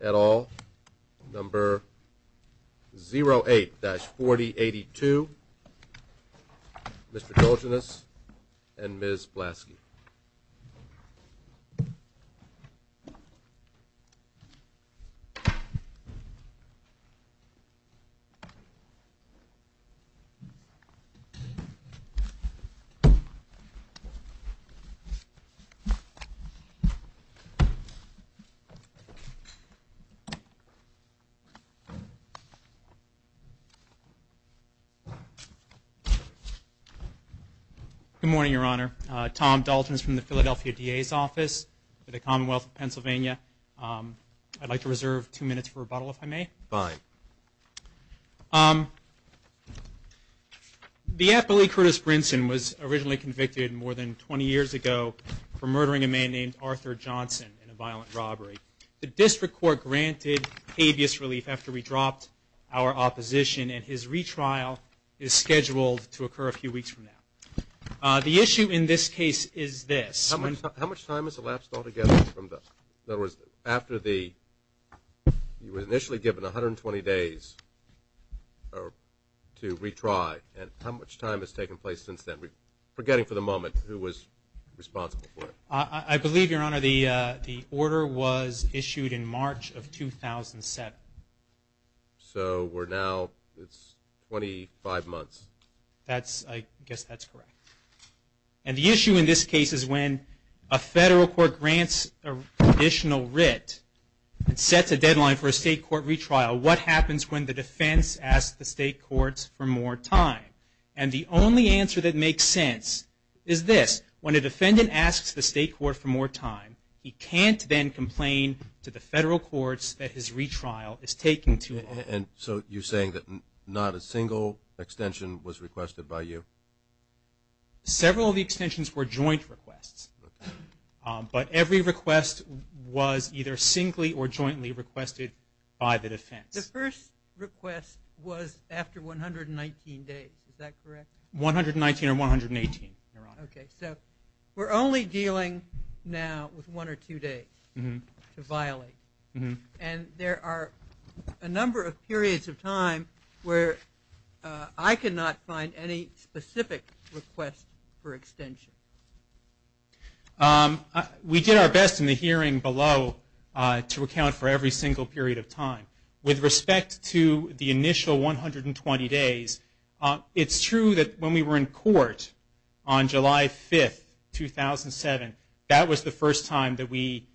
et al, number 08-4082. Thank you, Mr. Tolginus and Ms. Blasky. Good morning, Your Honor. Tom Dalton is from the Philadelphia DA's office for the Commonwealth of Pennsylvania. I'd like to reserve two minutes for rebuttal, if I may. The affiliate Curtis Brinson was originally convicted more than 20 years ago for murdering a man named Arthur Johnson in a violent robbery. The district court granted habeas relief after we dropped our opposition, and his retrial is scheduled to occur a few weeks from now. The issue in this case is this. How much time has elapsed altogether from the – in other words, after the – you were initially given 120 days to retry, and how much time has taken place since then, forgetting for the moment who was responsible for it? I believe, Your Honor, the order was issued in March of 2007. So we're now – it's 25 months. That's – I guess that's correct. And the issue in this case is when a federal court grants a conditional writ and sets a deadline for a state court retrial, what happens when the defense asks the state courts for more time? And the only answer that makes sense is this. When a defendant asks the state court for more time, he can't then complain to the federal courts that his retrial is taking too long. And so you're saying that not a single extension was requested by you? Several of the extensions were joint requests. But every request was either singly or jointly requested by the defense. The first request was after 119 days. Is that correct? 119 or 118, Your Honor. Okay. So we're only dealing now with one or two days to violate. And there are a number of periods of time where I could not find any specific request for extension. We did our best in the hearing below to account for every single period of time. With respect to the initial 120 days, it's true that when we were in court on July 5th, 2007, that was the first time that we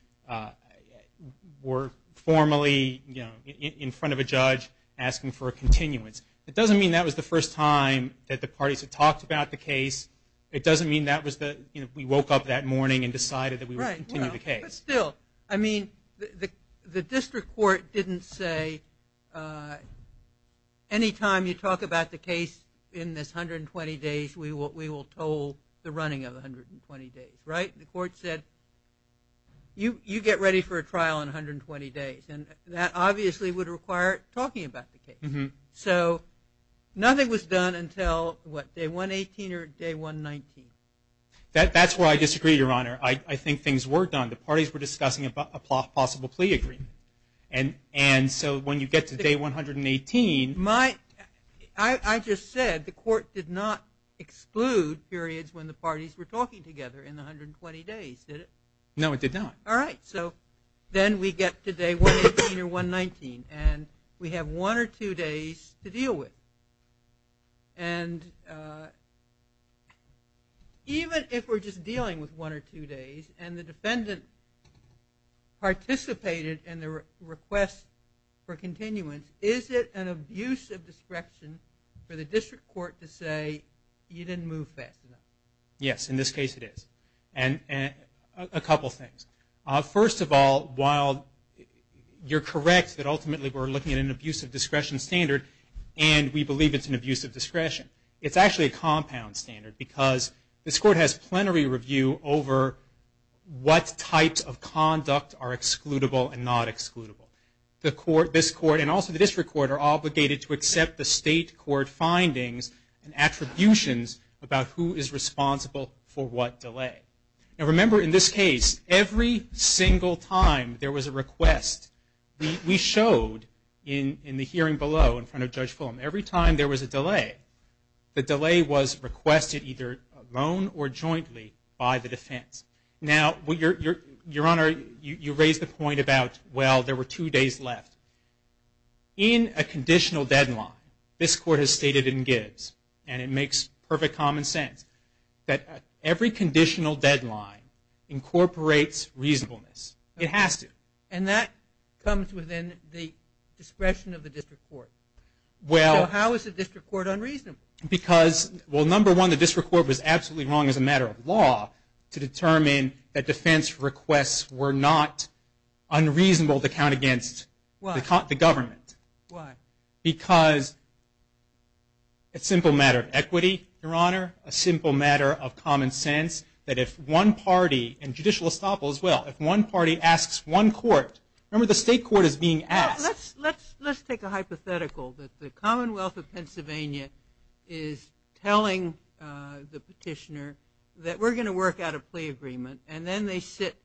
were formally, you know, in front of a judge asking for a continuance. It doesn't mean that was the first time that the parties had talked about the case. It doesn't mean that was the, you know, we woke up that morning and decided that we would continue the case. But still, I mean, the district court didn't say any time you talk about the case in this 120 days, we will toll the running of 120 days, right? The court said you get ready for a trial in 120 days. And that obviously would require talking about the case. So nothing was done until, what, day 118 or day 119? That's where I disagree, Your Honor. I think things were done. The parties were discussing a possible plea agreement. And so when you get to day 118. I just said the court did not exclude periods when the parties were talking together in the 120 days, did it? No, it did not. All right. So then we get to day 118 or 119, and we have one or two days to deal with. And even if we're just dealing with one or two days, and the defendant participated in the request for continuance, is it an abuse of discretion for the district court to say you didn't move fast enough? Yes, in this case it is. And a couple things. First of all, while you're correct that ultimately we're looking at an abuse of discretion standard, and we believe it's an abuse of discretion, it's actually a compound standard. Because this court has plenary review over what types of conduct are excludable and not excludable. This court and also the district court are obligated to accept the state court findings and attributions about who is responsible for what delay. And remember, in this case, every single time there was a request, we showed in the hearing below in front of Judge Fulham, every time there was a delay, the delay was requested either alone or jointly by the defense. Now, Your Honor, you raise the point about, well, there were two days left. In a conditional deadline, this court has stated in Gibbs, and it makes perfect common sense, that every conditional deadline incorporates reasonableness. It has to. And that comes within the discretion of the district court. So how is the district court unreasonable? Because, well, number one, the district court was absolutely wrong as a matter of law to determine that defense requests were not unreasonable to count against the government. Why? Because it's a simple matter of equity, Your Honor, a simple matter of common sense, that if one party, and judicial estoppel as well, if one party asks one court, remember the state court is being asked. Let's take a hypothetical that the Commonwealth of Pennsylvania is telling the petitioner that we're going to work out a plea agreement, and then they sit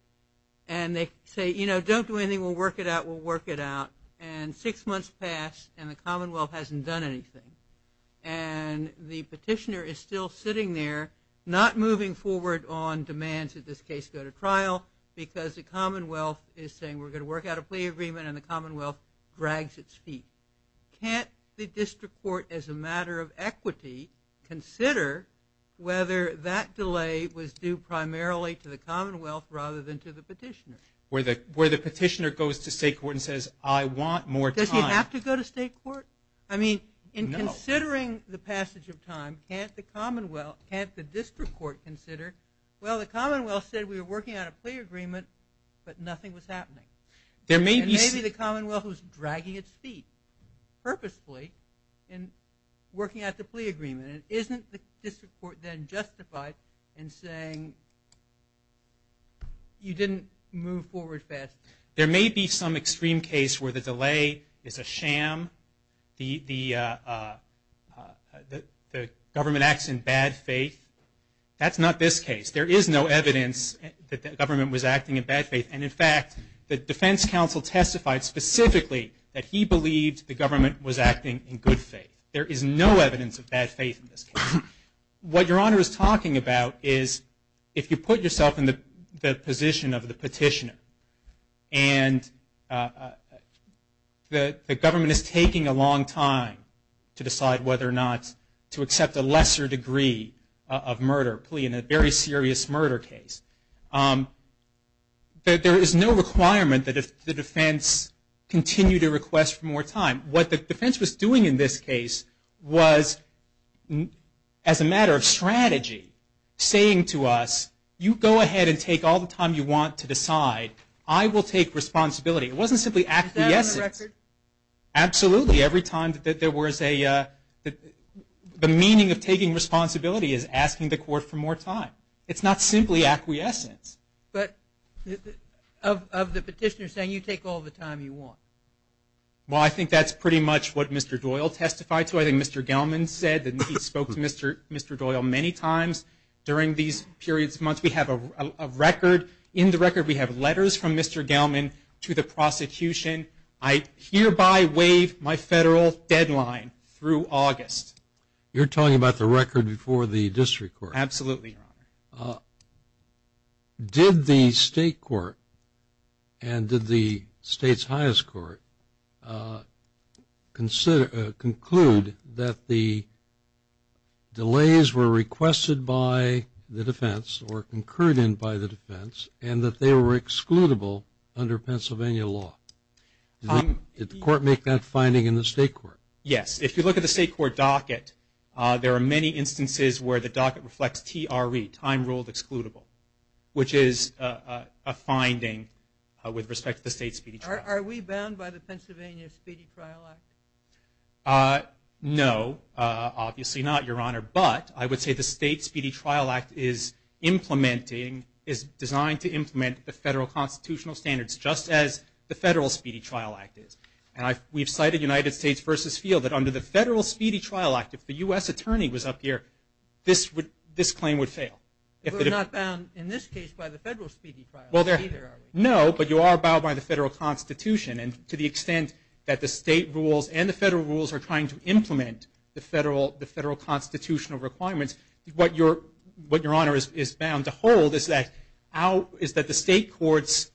and they say, you know, don't do anything, we'll work it out, we'll work it out. And six months pass, and the Commonwealth hasn't done anything. And the petitioner is still sitting there, not moving forward on demands, in this case, go to trial, because the Commonwealth is saying we're going to work out a plea agreement, and the Commonwealth drags its feet. Can't the district court, as a matter of equity, consider whether that delay was due primarily to the Commonwealth rather than to the petitioner? Where the petitioner goes to state court and says, I want more time. Does he have to go to state court? I mean, in considering the passage of time, can't the district court consider, well, the Commonwealth said we were working out a plea agreement, but nothing was happening. And maybe the Commonwealth was dragging its feet, purposefully, in working out the plea agreement. And isn't the district court then justified in saying, you didn't move forward fast? There may be some extreme case where the delay is a sham, the government acts in bad faith. That's not this case. There is no evidence that the government was acting in bad faith. And, in fact, the defense counsel testified specifically that he believed the government was acting in good faith. There is no evidence of bad faith in this case. What Your Honor is talking about is, if you put yourself in the position of the petitioner, and the government is taking a long time to decide whether or not to accept a lesser degree of murder plea in a very serious murder case, there is no requirement that the defense continue to request for more time. What the defense was doing in this case was, as a matter of strategy, saying to us, you go ahead and take all the time you want to decide. I will take responsibility. It wasn't simply acquiescence. Is that on the record? Absolutely. Every time that there was a, the meaning of taking responsibility is asking the court for more time. It's not simply acquiescence. But of the petitioner saying, you take all the time you want. Well, I think that's pretty much what Mr. Doyle testified to. I think Mr. Gelman said that he spoke to Mr. Doyle many times during these periods of months. We have a record. In the record we have letters from Mr. Gelman to the prosecution. I hereby waive my federal deadline through August. You're talking about the record before the district court. Absolutely, Your Honor. Did the state court and did the state's highest court conclude that the delays were requested by the defense or concurred in by the defense and that they were excludable under Pennsylvania law? Did the court make that finding in the state court? Yes. If you look at the state court docket, there are many instances where the docket reflects TRE, time ruled excludable, which is a finding with respect to the state speedy trial. Are we bound by the Pennsylvania Speedy Trial Act? No, obviously not, Your Honor. But I would say the state speedy trial act is implementing, is designed to implement the federal constitutional standards just as the federal speedy trial act is. And we've cited United States v. Field that under the federal speedy trial act, if the U.S. attorney was up here, this claim would fail. We're not bound in this case by the federal speedy trial act either, are we? No, but you are bound by the federal constitution. And to the extent that the state rules and the federal rules are trying to implement the federal constitutional requirements, what Your Honor is bound to hold is that the state court's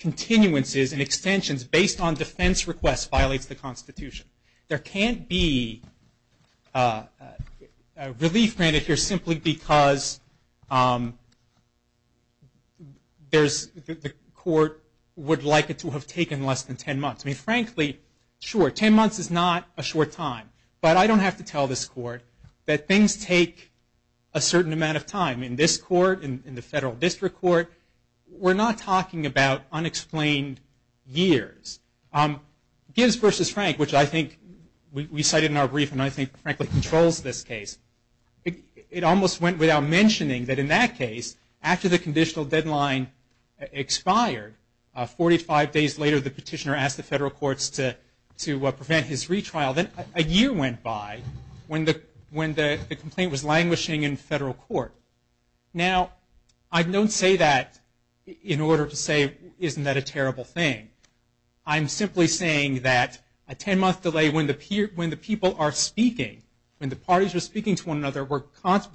continuances and extensions based on defense requests violates the constitution. There can't be relief granted here simply because the court would like it to have taken less than 10 months. I mean, frankly, sure, 10 months is not a short time. But I don't have to tell this court that things take a certain amount of time. In this court, in the federal district court, we're not talking about unexplained years. Gibbs v. Frank, which I think we cited in our brief and I think frankly controls this case, it almost went without mentioning that in that case, after the conditional deadline expired, 45 days later the petitioner asked the federal courts to prevent his retrial, then a year went by when the complaint was languishing in federal court. Now, I don't say that in order to say isn't that a terrible thing. I'm simply saying that a 10-month delay when the people are speaking, when the parties are speaking to one another, we're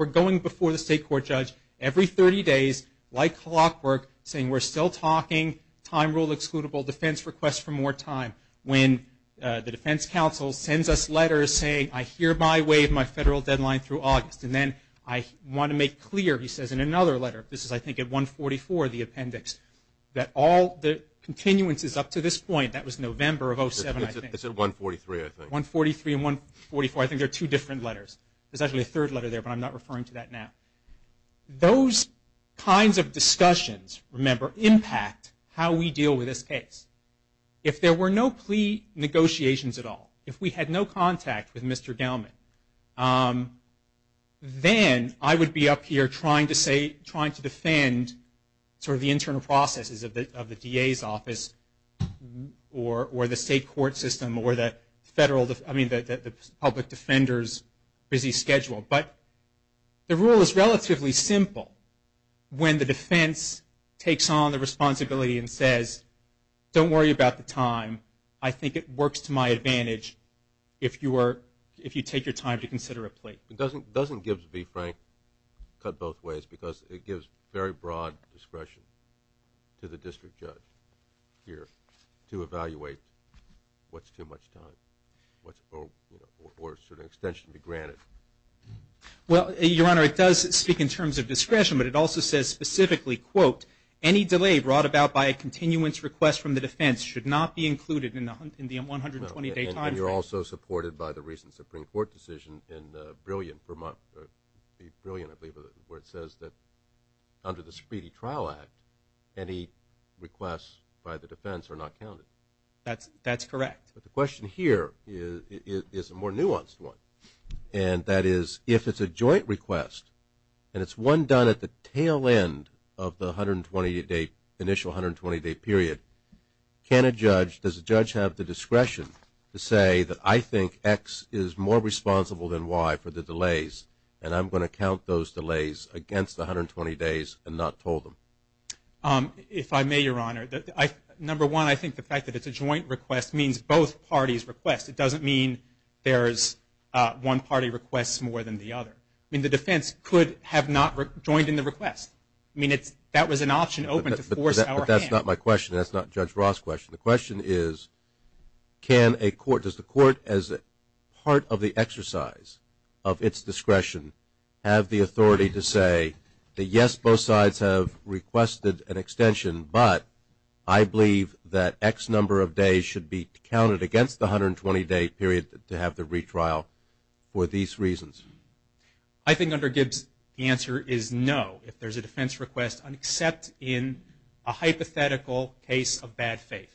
going before the state court judge every 30 days, like clockwork, saying we're still talking, time rule excludable, defense request for more time. When the defense counsel sends us letters saying I hereby waive my federal deadline through August and then I want to make clear, he says in another letter, this is I think at 144, the appendix, that all the continuances up to this point, that was November of 07, I think. It's at 143, I think. 143 and 144, I think they're two different letters. There's actually a third letter there, but I'm not referring to that now. Those kinds of discussions, remember, impact how we deal with this case. If there were no plea negotiations at all, if we had no contact with Mr. Gellman, then I would be up here trying to defend sort of the internal processes of the DA's office or the state court system or the public defender's busy schedule. But the rule is relatively simple when the defense takes on the responsibility and says don't worry about the time. I think it works to my advantage if you take your time to consider a plea. It doesn't give, to be frank, cut both ways because it gives very broad discretion to the district judge here to evaluate what's too much time or should an extension be granted. Well, Your Honor, it does speak in terms of discretion, but it also says specifically, quote, any delay brought about by a continuance request from the defense should not be included in the 120-day time frame. And you're also supported by the recent Supreme Court decision in the Brilliant, I believe, where it says that under the Speedy Trial Act, any requests by the defense are not counted. That's correct. But the question here is a more nuanced one, and that is if it's a joint request and it's one done at the tail end of the initial 120-day period, can a judge, does a judge have the discretion to say that I think X is more responsible than Y for the delays and I'm going to count those delays against the 120 days and not toll them? If I may, Your Honor, number one, I think the fact that it's a joint request means both parties request. It doesn't mean there's one party requests more than the other. I mean, the defense could have not joined in the request. I mean, that was an option open to force our hand. But that's not my question. That's not Judge Ross' question. The question is can a court, does the court, as part of the exercise of its discretion, have the authority to say that, yes, both sides have requested an extension, but I believe that X number of days should be counted against the 120-day period to have the retrial for these reasons? I think under Gibbs the answer is no, if there's a defense request, except in a hypothetical case of bad faith,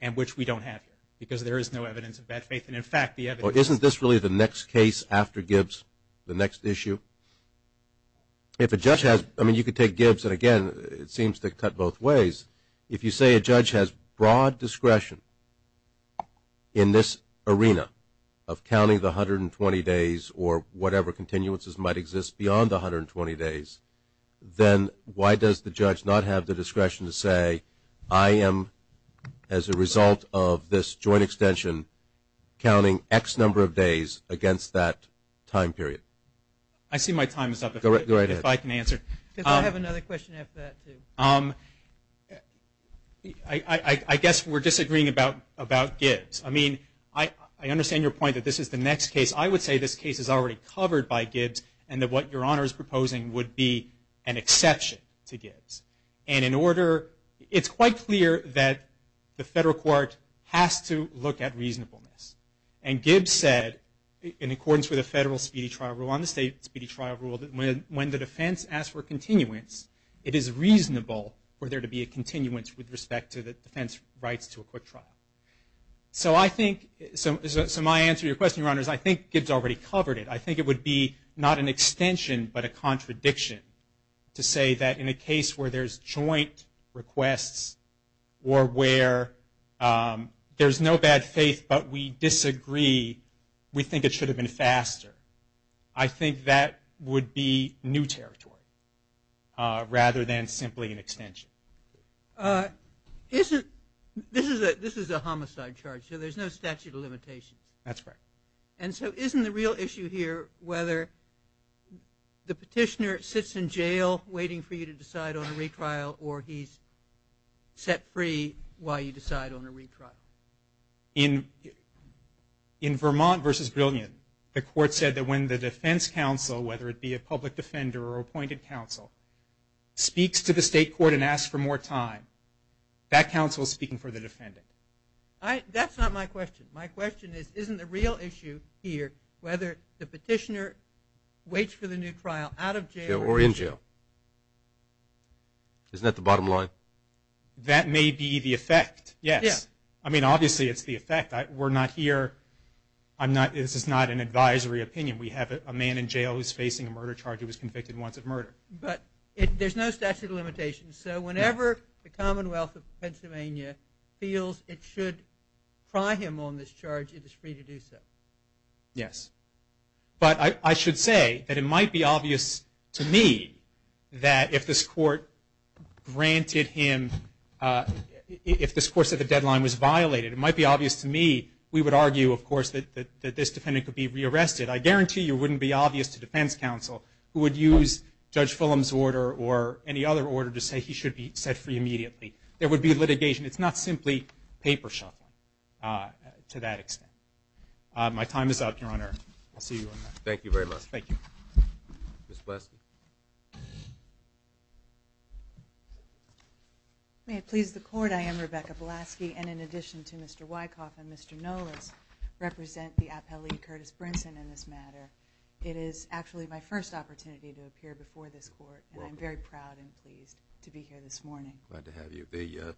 and which we don't have here, because there is no evidence of bad faith. And, in fact, the evidence of bad faith... Well, isn't this really the next case after Gibbs, the next issue? If a judge has, I mean, you could take Gibbs, and, again, it seems to cut both ways. If you say a judge has broad discretion in this arena of counting the 120 days or whatever continuances might exist beyond the 120 days, then why does the judge not have the discretion to say I am, as a result of this joint extension, counting X number of days against that time period? I see my time is up. Go right ahead. If I can answer. I have another question after that, too. I guess we're disagreeing about Gibbs. I mean, I understand your point that this is the next case. I would say this case is already covered by Gibbs, and that what Your Honor is proposing would be an exception to Gibbs. And in order... It's quite clear that the federal court has to look at reasonableness. And Gibbs said, in accordance with the federal speedy trial rule, on the state speedy trial rule, that when the defense asks for a continuance, it is reasonable for there to be a continuance with respect to the defense's rights to a quick trial. So I think... So my answer to your question, Your Honor, is I think Gibbs already covered it. I think it would be not an extension but a contradiction to say that in a case where there's joint requests or where there's no bad faith but we disagree, we think it should have been faster. I think that would be new territory rather than simply an extension. Isn't... This is a homicide charge, so there's no statute of limitations. That's correct. And so isn't the real issue here whether the petitioner sits in jail waiting for you to decide on a retrial or he's set free while you decide on a retrial? In Vermont v. Brilliant, the court said that when the defense counsel, whether it be a public defender or appointed counsel, speaks to the state court and asks for more time, that counsel is speaking for the defendant. That's not my question. My question is isn't the real issue here whether the petitioner waits for the new trial out of jail or in jail? Isn't that the bottom line? That may be the effect, yes. I mean, obviously, it's the effect. We're not here. This is not an advisory opinion. We have a man in jail who's facing a murder charge. He was convicted once of murder. But there's no statute of limitations. So whenever the Commonwealth of Pennsylvania feels it should pry him on this charge, it is free to do so. Yes. But I should say that it might be obvious to me that if this court granted him, if this court said the deadline was violated, it might be obvious to me, we would argue, of course, that this defendant could be rearrested. I guarantee you it wouldn't be obvious to defense counsel who would use Judge Fulham's order or any other order to say he should be set free immediately. There would be litigation. It's not simply paper shuffling to that extent. My time is up, Your Honor. I'll see you in a minute. Thank you very much. Thank you. Ms. Blaske. May it please the Court, I am Rebecca Blaske, and in addition to Mr. Wyckoff and Mr. Nolas, represent the appellee, Curtis Brinson, in this matter. It is actually my first opportunity to appear before this Court, and I'm very proud and pleased to be here this morning. Glad to have you. The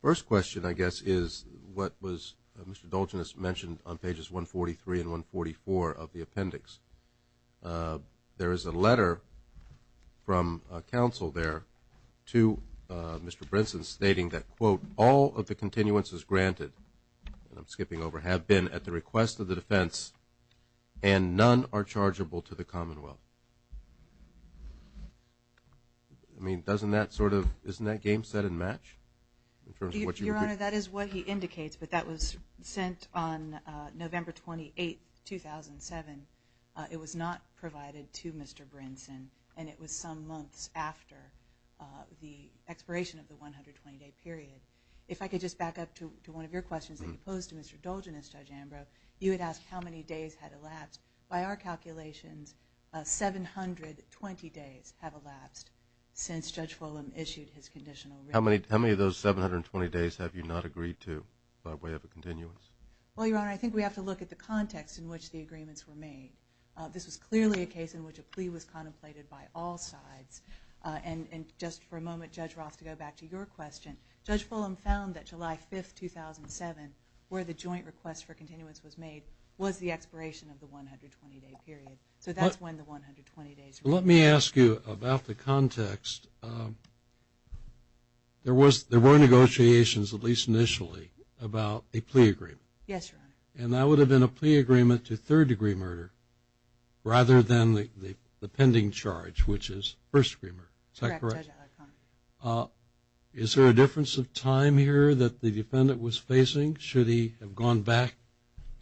first question, I guess, is what was Mr. Dulcinius mentioned on pages 143 and 144 of the appendix. There is a letter from counsel there to Mr. Brinson stating that, quote, all of the continuances granted, and I'm skipping over, have been at the request of the defense and none are chargeable to the Commonwealth. I mean, doesn't that sort of, isn't that game set and match? Your Honor, that is what he indicates, but that was sent on November 28, 2007. It was not provided to Mr. Brinson, and it was some months after the expiration of the 120-day period. If I could just back up to one of your questions that you posed to Mr. Dulcinius, Judge Ambrose, you had asked how many days had elapsed. By our calculations, 720 days have elapsed since Judge Fulham issued his conditional ruling. How many of those 720 days have you not agreed to by way of a continuance? Well, Your Honor, I think we have to look at the context in which the agreements were made. This was clearly a case in which a plea was contemplated by all sides. And just for a moment, Judge Roth, to go back to your question, Judge Fulham found that July 5, 2007, where the joint request for continuance was made, was the expiration of the 120-day period. So that's when the 120 days were made. Let me ask you about the context. There were negotiations, at least initially, about a plea agreement. Yes, Your Honor. And that would have been a plea agreement to third-degree murder, rather than the pending charge, which is first-degree murder. Is that correct? Correct, Judge Alicante. Is there a difference of time here that the defendant was facing? Should he have gone back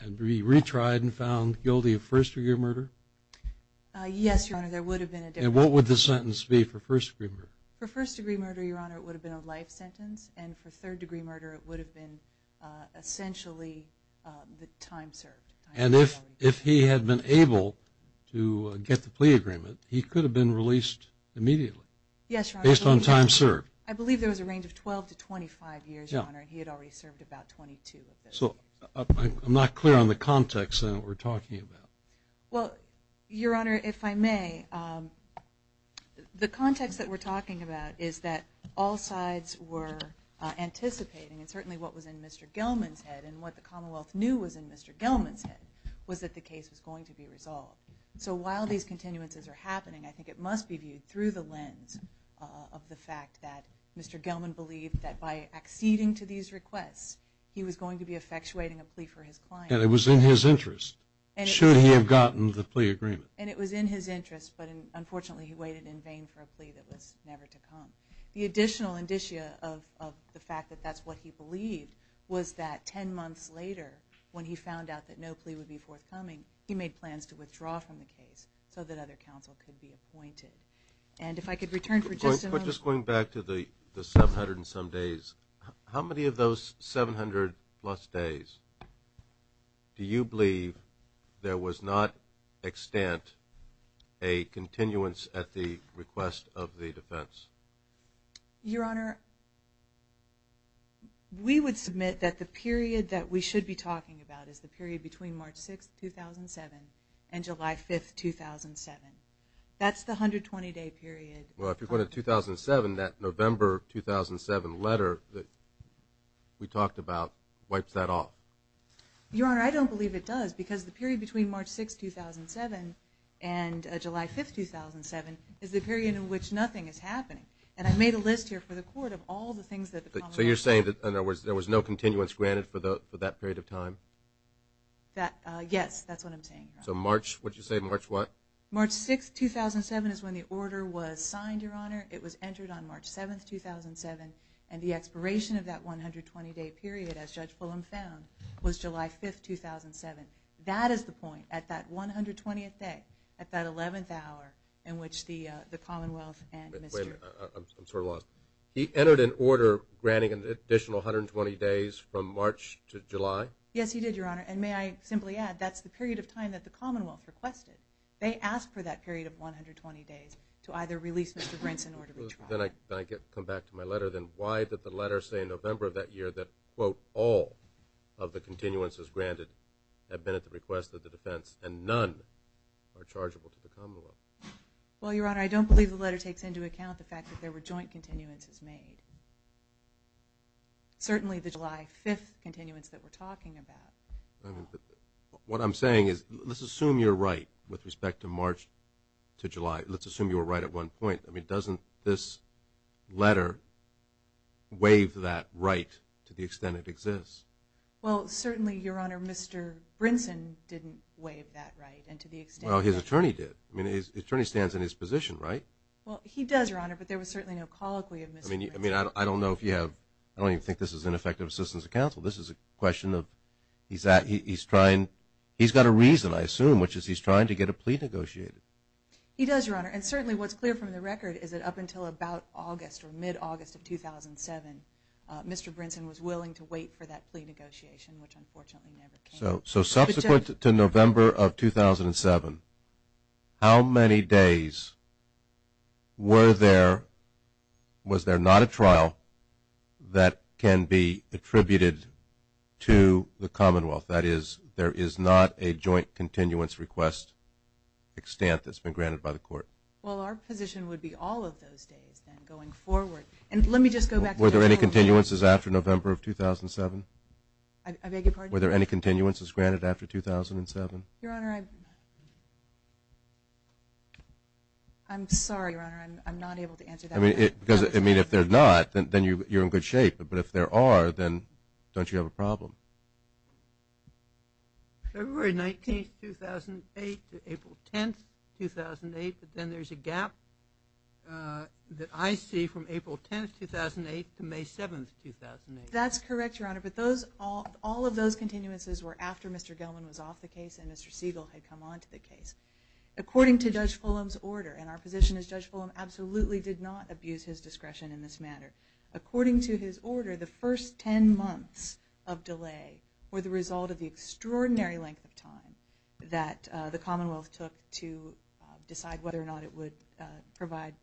and retried and found guilty of first-degree murder? Yes, Your Honor, there would have been a difference. And what would the sentence be for first-degree murder? For first-degree murder, Your Honor, it would have been a life sentence. And for third-degree murder, it would have been essentially the time served. And if he had been able to get the plea agreement, he could have been released immediately? Yes, Your Honor. Based on time served? I believe there was a range of 12 to 25 years, Your Honor, and he had already served about 22 of those years. So I'm not clear on the context that we're talking about. Well, Your Honor, if I may, the context that we're talking about is that all sides were anticipating, and certainly what was in Mr. Gelman's head and what the Commonwealth knew was in Mr. Gelman's head, was that the case was going to be resolved. So while these continuances are happening, I think it must be viewed through the lens of the fact that Mr. Gelman believed that by acceding to these requests, he was going to be effectuating a plea for his client. And it was in his interest, should he have gotten the plea agreement. And it was in his interest, but unfortunately he waited in vain for a plea that was never to come. The additional indicia of the fact that that's what he believed was that 10 months later, when he found out that no plea would be forthcoming, he made plans to withdraw from the case so that other counsel could be appointed. And if I could return for just a moment. Do you believe there was not, extant, a continuance at the request of the defense? Your Honor, we would submit that the period that we should be talking about is the period between March 6, 2007 and July 5, 2007. That's the 120-day period. Well, if you're going to 2007, that November 2007 letter that we talked about wipes that off. Your Honor, I don't believe it does, because the period between March 6, 2007 and July 5, 2007 is the period in which nothing is happening. And I made a list here for the Court of all the things that the Common Law does. So you're saying that, in other words, there was no continuance granted for that period of time? Yes, that's what I'm saying, Your Honor. So March, would you say March what? March 6, 2007 is when the order was signed, Your Honor. It was entered on March 7, 2007, and the expiration of that 120-day period, as Judge Pullum found, was July 5, 2007. That is the point at that 120th day, at that 11th hour, in which the Commonwealth and Mr. Wait a minute. I'm sort of lost. He entered an order granting an additional 120 days from March to July? Yes, he did, Your Honor. And may I simply add, that's the period of time that the Commonwealth requested. They asked for that period of 120 days to either release Mr. Brinson or to withdraw. Then I come back to my letter. Then why did the letter say in November of that year that, quote, all of the continuances granted had been at the request of the defense and none are chargeable to the Commonwealth? Well, Your Honor, I don't believe the letter takes into account the fact that there were joint continuances made. Certainly the July 5th continuance that we're talking about. What I'm saying is, let's assume you're right with respect to March to July. Let's assume you were right at one point. I mean, doesn't this letter waive that right to the extent it exists? Well, certainly, Your Honor, Mr. Brinson didn't waive that right and to the extent that he did. Well, his attorney did. I mean, his attorney stands in his position, right? Well, he does, Your Honor, but there was certainly no colloquy of Mr. Brinson. I mean, I don't know if you have – I don't even think this is ineffective assistance of counsel. This is a question of he's trying – he's got a reason, I assume, which is he's trying to get a plea negotiated. He does, Your Honor. And certainly what's clear from the record is that up until about August or mid-August of 2007, Mr. Brinson was willing to wait for that plea negotiation, which unfortunately never came. So subsequent to November of 2007, how many days were there – was there not a trial that can be attributed to the Commonwealth? That is, there is not a joint continuance request extent that's been granted by the Court. Well, our position would be all of those days then going forward. And let me just go back to – Were there any continuances after November of 2007? I beg your pardon? Were there any continuances granted after 2007? Your Honor, I'm sorry, Your Honor. I'm not able to answer that. I mean, if there's not, then you're in good shape. But if there are, then don't you have a problem? February 19th, 2008 to April 10th, 2008, but then there's a gap that I see from April 10th, 2008 to May 7th, 2008. That's correct, Your Honor. But all of those continuances were after Mr. Gelman was off the case and Mr. Siegel had come onto the case. According to Judge Fulham's order, and our position is Judge Fulham absolutely did not abuse his discretion in this matter, according to his order, the first 10 months of delay were the result of the extraordinary length of time that the Commonwealth took to decide whether or not it would provide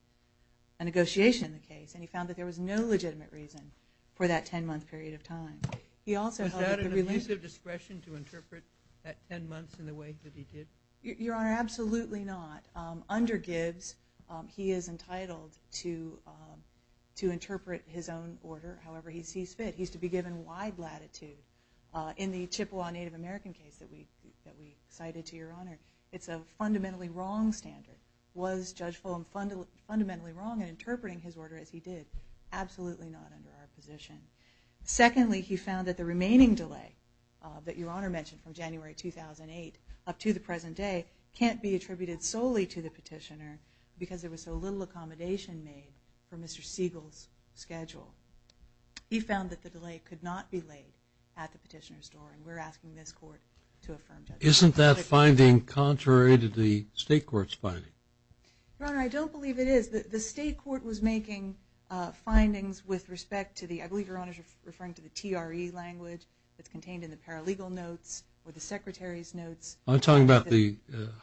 a negotiation in the case. And he found that there was no legitimate reason for that 10-month period of time. Was that an abuse of discretion to interpret that 10 months in the way that he did? Your Honor, absolutely not. Under Gibbs, he is entitled to interpret his own order however he sees fit. He's to be given wide latitude. In the Chippewa Native American case that we cited to Your Honor, it's a fundamentally wrong standard. Was Judge Fulham fundamentally wrong in interpreting his order as he did? Absolutely not under our position. Secondly, he found that the remaining delay that Your Honor mentioned from January 2008 up to the present day can't be attributed solely to the petitioner because there was so little accommodation made for Mr. Siegel's schedule. He found that the delay could not be laid at the petitioner's door, and we're asking this court to affirm that. Isn't that finding contrary to the state court's finding? Your Honor, I don't believe it is. The state court was making findings with respect to the, I believe Your Honor is referring to the TRE language that's contained in the paralegal notes or the secretary's notes. I'm talking about the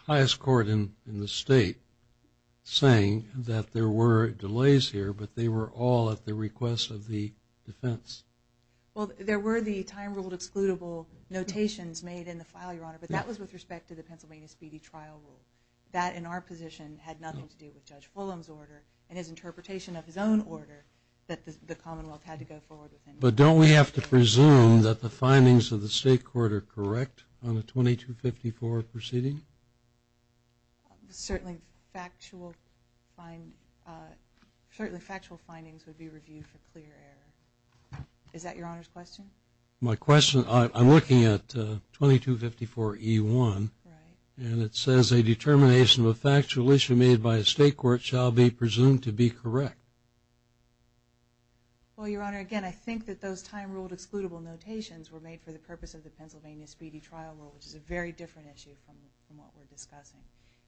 highest court in the state saying that there were delays here, but they were all at the request of the defense. Well, there were the time rule excludable notations made in the file, Your Honor, but that was with respect to the Pennsylvania speedy trial rule. That in our position had nothing to do with Judge Fulham's order and his interpretation of his own order that the Commonwealth had to go forward with him. But don't we have to presume that the findings of the state court are correct on the 2254 proceeding? Certainly factual findings would be reviewed for clear error. Is that Your Honor's question? My question, I'm looking at 2254E1, and it says a determination of a factual issue made by a state court shall be presumed to be correct. Well, Your Honor, again, I think that those time rule excludable notations were made for the purpose of the Pennsylvania speedy trial rule, which is a very different issue from what we're discussing.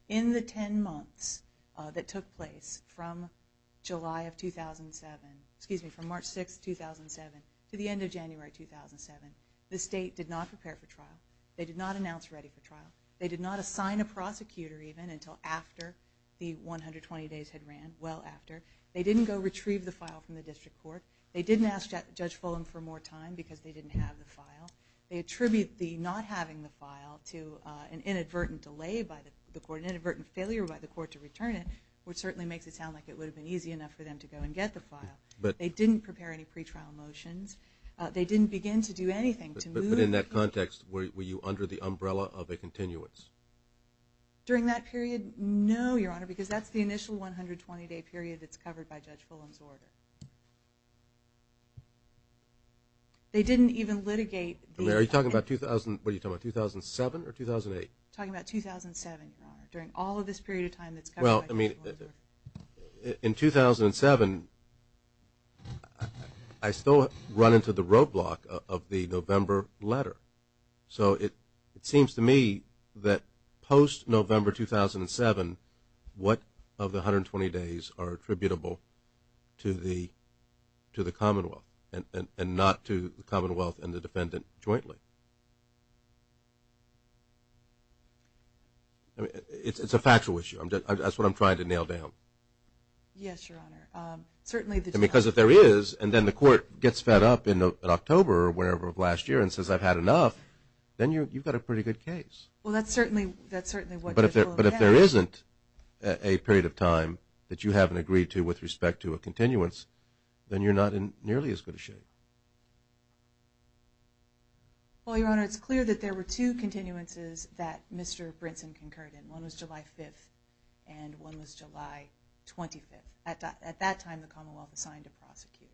In the ten months that took place from July of 2007, excuse me, from March 6, 2007 to the end of January 2007, the state did not prepare for trial. They did not announce ready for trial. They did not assign a prosecutor even until after the 120 days had ran, well after. They didn't go retrieve the file from the district court. They didn't ask Judge Fulham for more time because they didn't have the file. They attribute the not having the file to an inadvertent delay by the court, an inadvertent failure by the court to return it, which certainly makes it sound like it would have been easy enough for them to go and get the file. They didn't prepare any pretrial motions. They didn't begin to do anything to move. But in that context, were you under the umbrella of a continuance? During that period, no, Your Honor, because that's the initial 120-day period that's covered by Judge Fulham's order. They didn't even litigate. Are you talking about 2007 or 2008? Talking about 2007, Your Honor, during all of this period of time that's covered by Judge Fulham's order. In 2007, I still run into the roadblock of the November letter. So it seems to me that post-November 2007, what of the 120 days are attributable to the Commonwealth and not to the Commonwealth and the defendant jointly? It's a factual issue. That's what I'm trying to nail down. Yes, Your Honor. Because if there is, and then the court gets fed up in October or whenever of last year and says I've had enough, then you've got a pretty good case. Well, that's certainly what Judge Fulham said. But if there isn't a period of time that you haven't agreed to with respect to a continuance, then you're not in nearly as good a shape. Well, Your Honor, it's clear that there were two continuances that Mr. Brinson concurred in. One was July 5th and one was July 25th. At that time, the Commonwealth assigned a prosecutor.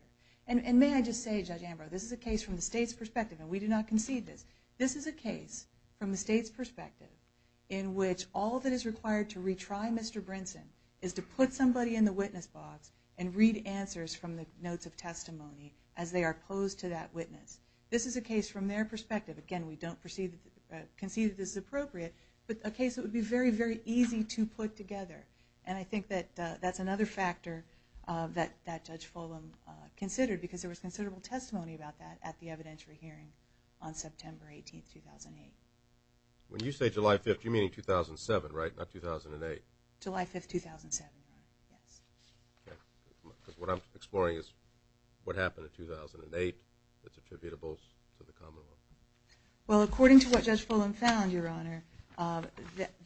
And may I just say, Judge Ambrose, this is a case from the State's perspective, and we do not concede this, this is a case from the State's perspective in which all that is required to retry Mr. Brinson is to put somebody in the witness box and read answers from the notes of testimony as they are opposed to that witness. This is a case from their perspective. Again, we don't concede that this is appropriate, but a case that would be very, very easy to put together. And I think that that's another factor that Judge Fulham considered because there was considerable testimony about that at the evidentiary hearing on September 18th, 2008. When you say July 5th, you mean 2007, right, not 2008? July 5th, 2007, Your Honor, yes. Okay. What I'm exploring is what happened in 2008 that's attributable to the Commonwealth. Well, according to what Judge Fulham found, Your Honor,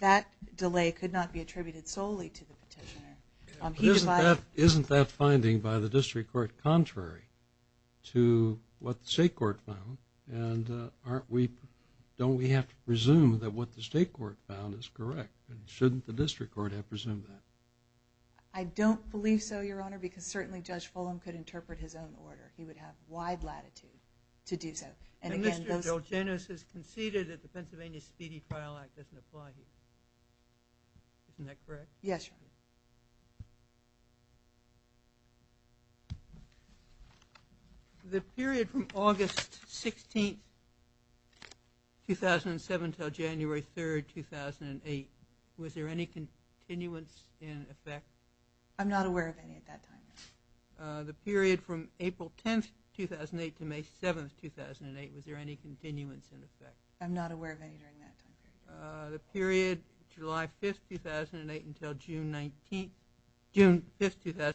that delay could not be attributed solely to the petitioner. Isn't that finding by the District Court contrary to what the State Court found? And don't we have to presume that what the State Court found is correct? Shouldn't the District Court have presumed that? I don't believe so, Your Honor, because certainly Judge Fulham could interpret his own order. He would have wide latitude to do so. And Mr. Delgenos has conceded that the Pennsylvania Speedy Trial Act doesn't apply here. Isn't that correct? Yes, Your Honor. The period from August 16th, 2007, until January 3rd, 2008, was there any continuance in effect? I'm not aware of any at that time, Your Honor. The period from April 10th, 2008, to May 7th, 2008, was there any continuance in effect? I'm not aware of any during that time period. The period July 5th, 2008, until June 19th, 2008,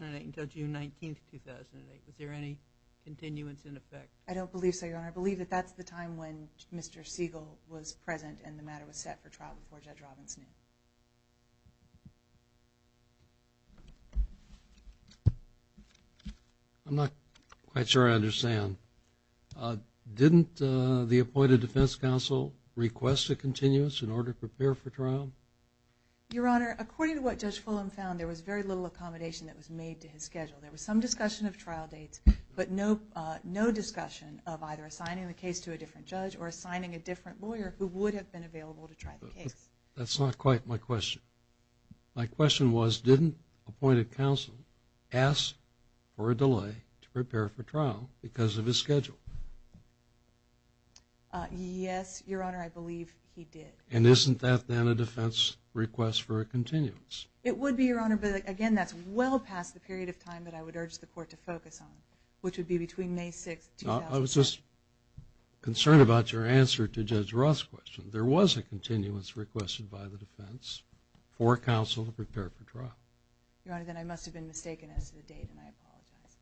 was there any continuance in effect? I don't believe so, Your Honor. And I believe that that's the time when Mr. Siegel was present and the matter was set for trial before Judge Robbins knew. I'm not quite sure I understand. Didn't the appointed defense counsel request a continuance in order to prepare for trial? Your Honor, according to what Judge Fulham found, there was very little accommodation that was made to his schedule. There was some discussion of trial dates, but no discussion of either assigning the case to a different judge or assigning a different lawyer who would have been available to try the case. That's not quite my question. My question was, didn't the appointed counsel ask for a delay to prepare for trial because of his schedule? Yes, Your Honor, I believe he did. And isn't that then a defense request for a continuance? It would be, Your Honor, but, again, that's well past the period of time that I would urge the court to focus on, which would be between May 6th, 2008. I was just concerned about your answer to Judge Roth's question. There was a continuance requested by the defense for counsel to prepare for trial. Your Honor, then I must have been mistaken as to the date, and I apologize.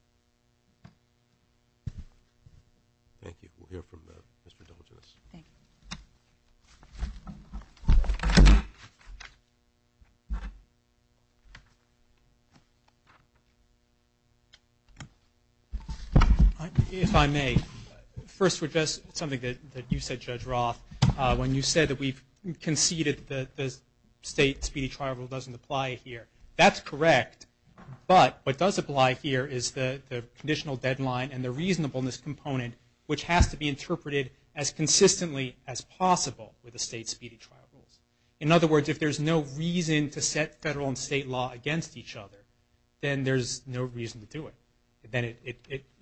Thank you. We'll hear from Mr. Dolginus. Thank you. If I may, first with just something that you said, Judge Roth, when you said that we've conceded that the state speedy trial rule doesn't apply here, that's correct. But what does apply here is the conditional deadline and the reasonableness component, which has to be interpreted as consistently as possible with the state speedy trial rules. In other words, if there's no reason to set federal and state law against each other, then there's no reason to do it.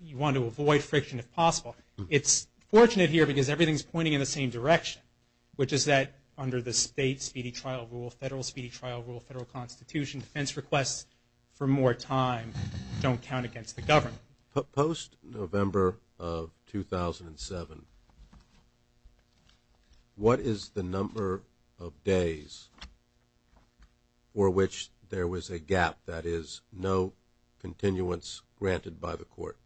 You want to avoid friction if possible. It's fortunate here because everything's pointing in the same direction, which is that under the state speedy trial rule, federal speedy trial rule, federal constitution, defense requests for more time don't count against the government. Post-November of 2007, what is the number of days for which there was a gap, that is, no continuance granted by the court?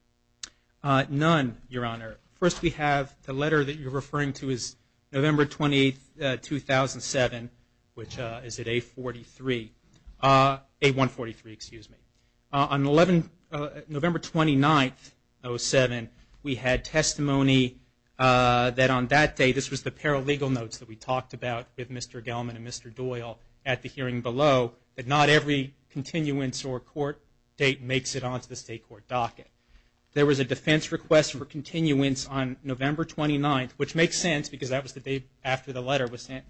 None, Your Honor. First we have the letter that you're referring to is November 20, 2007, which is at A-43, A-143, excuse me. On November 29, 2007, we had testimony that on that day, this was the paralegal notes that we talked about with Mr. Gelman and Mr. Doyle at the hearing below, that not every continuance or court date makes it onto the state court docket. There was a defense request for continuance on November 29, which makes sense because that was the day after the letter was sent,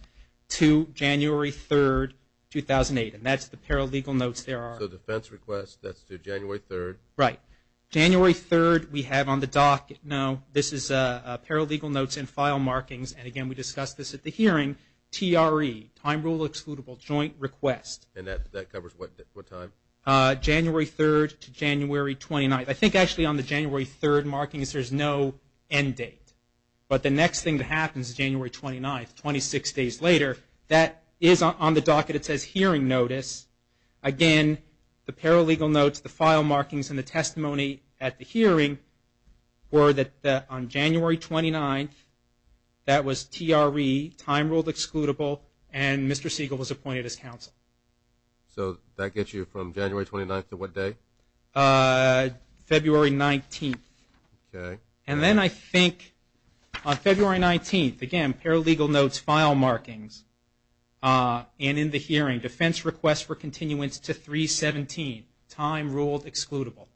to January 3, 2008, and that's the paralegal notes there are. So defense request, that's to January 3. Right. January 3, we have on the docket, no, this is paralegal notes and file markings, and again, we discussed this at the hearing, TRE, time rule excludable joint request. And that covers what time? January 3 to January 29. I think actually on the January 3 markings, there's no end date. But the next thing that happens, January 29, 26 days later, that is on the docket. It says hearing notice. Again, the paralegal notes, the file markings, and the testimony at the hearing were that on January 29, that was TRE, time rule excludable, and Mr. Siegel was appointed as counsel. So that gets you from January 29 to what day? February 19. Okay. And then I think on February 19, again, paralegal notes, file markings, and in the hearing, defense request for continuance to 3-17, time rule excludable.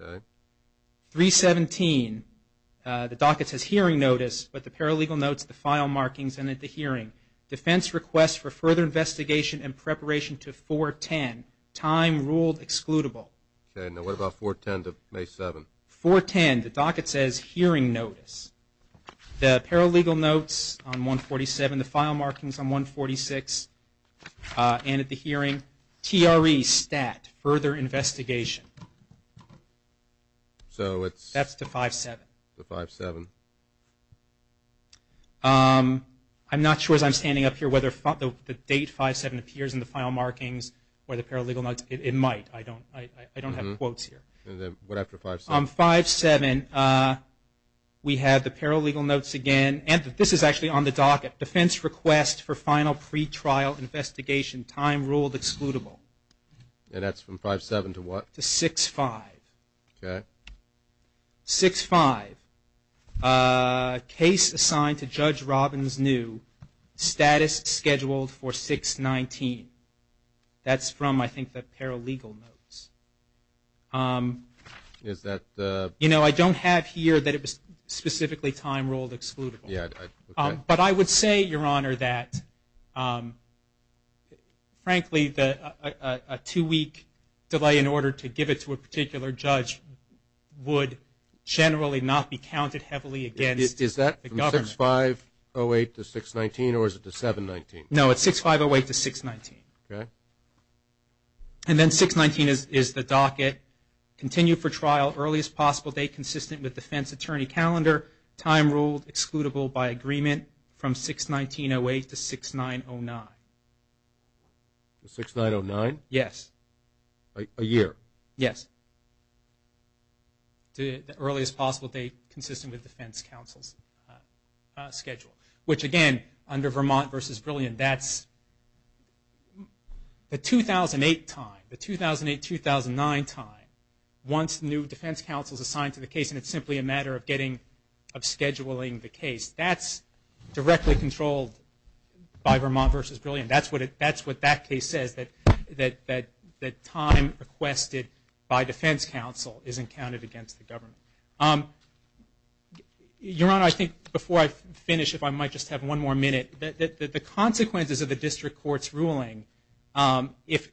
Okay. 3-17, the docket says hearing notice, but the paralegal notes, the file markings, and at the hearing, defense request for further investigation and preparation to 4-10, time rule excludable. Okay. Now what about 4-10 to May 7? 4-10, the docket says hearing notice. The paralegal notes on 1-47, the file markings on 1-46, and at the hearing, TRE, STAT, further investigation. So it's... That's to 5-7. To 5-7. I'm not sure as I'm standing up here whether the date 5-7 appears in the file markings or the paralegal notes. It might. I don't have quotes here. And then what after 5-7? On 5-7, we have the paralegal notes again, and this is actually on the docket, defense request for final pretrial investigation, time rule excludable. And that's from 5-7 to what? To 6-5. Okay. 6-5, case assigned to Judge Robbins-New, status scheduled for 6-19. That's from, I think, the paralegal notes. Is that the... You know, I don't have here that it was specifically time ruled excludable. Yeah. But I would say, Your Honor, that, frankly, a two-week delay in order to give it to a particular judge would generally not be counted heavily against the government. Is that from 6-5-08 to 6-19, or is it to 7-19? No, it's 6-5-08 to 6-19. Okay. And then 6-19 is the docket, continue for trial, earliest possible date consistent with defense attorney calendar, time ruled excludable by agreement from 6-19-08 to 6-9-09. 6-9-09? Yes. A year? Yes. The earliest possible date consistent with defense counsel's schedule, which, again, under Vermont v. Brilliant, that's the 2008 time. The 2008-2009 time, once new defense counsel is assigned to the case and it's simply a matter of scheduling the case, that's directly controlled by Vermont v. Brilliant. That's what that case says, that time requested by defense counsel isn't counted against the government. Your Honor, I think before I finish, if I might just have one more minute, the consequences of the district court's ruling, if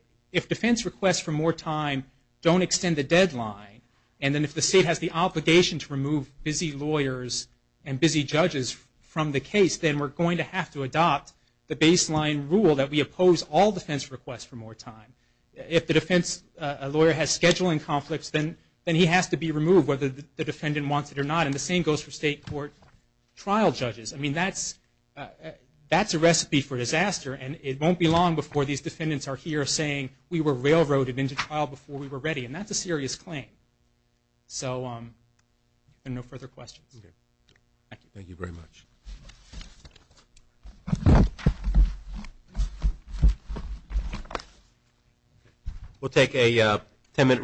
defense requests for more time don't extend the deadline, and then if the state has the obligation to remove busy lawyers and busy judges from the case, then we're going to have to adopt the baseline rule that we oppose all defense requests for more time. If the defense lawyer has scheduling conflicts, then he has to be removed whether the defendant wants it or not, and the same goes for state court trial judges. I mean, that's a recipe for disaster, and it won't be long before these defendants are here saying, we were railroaded into trial before we were ready, and that's a serious claim. So no further questions. Thank you very much. Thank you. We'll take a ten-minute recess.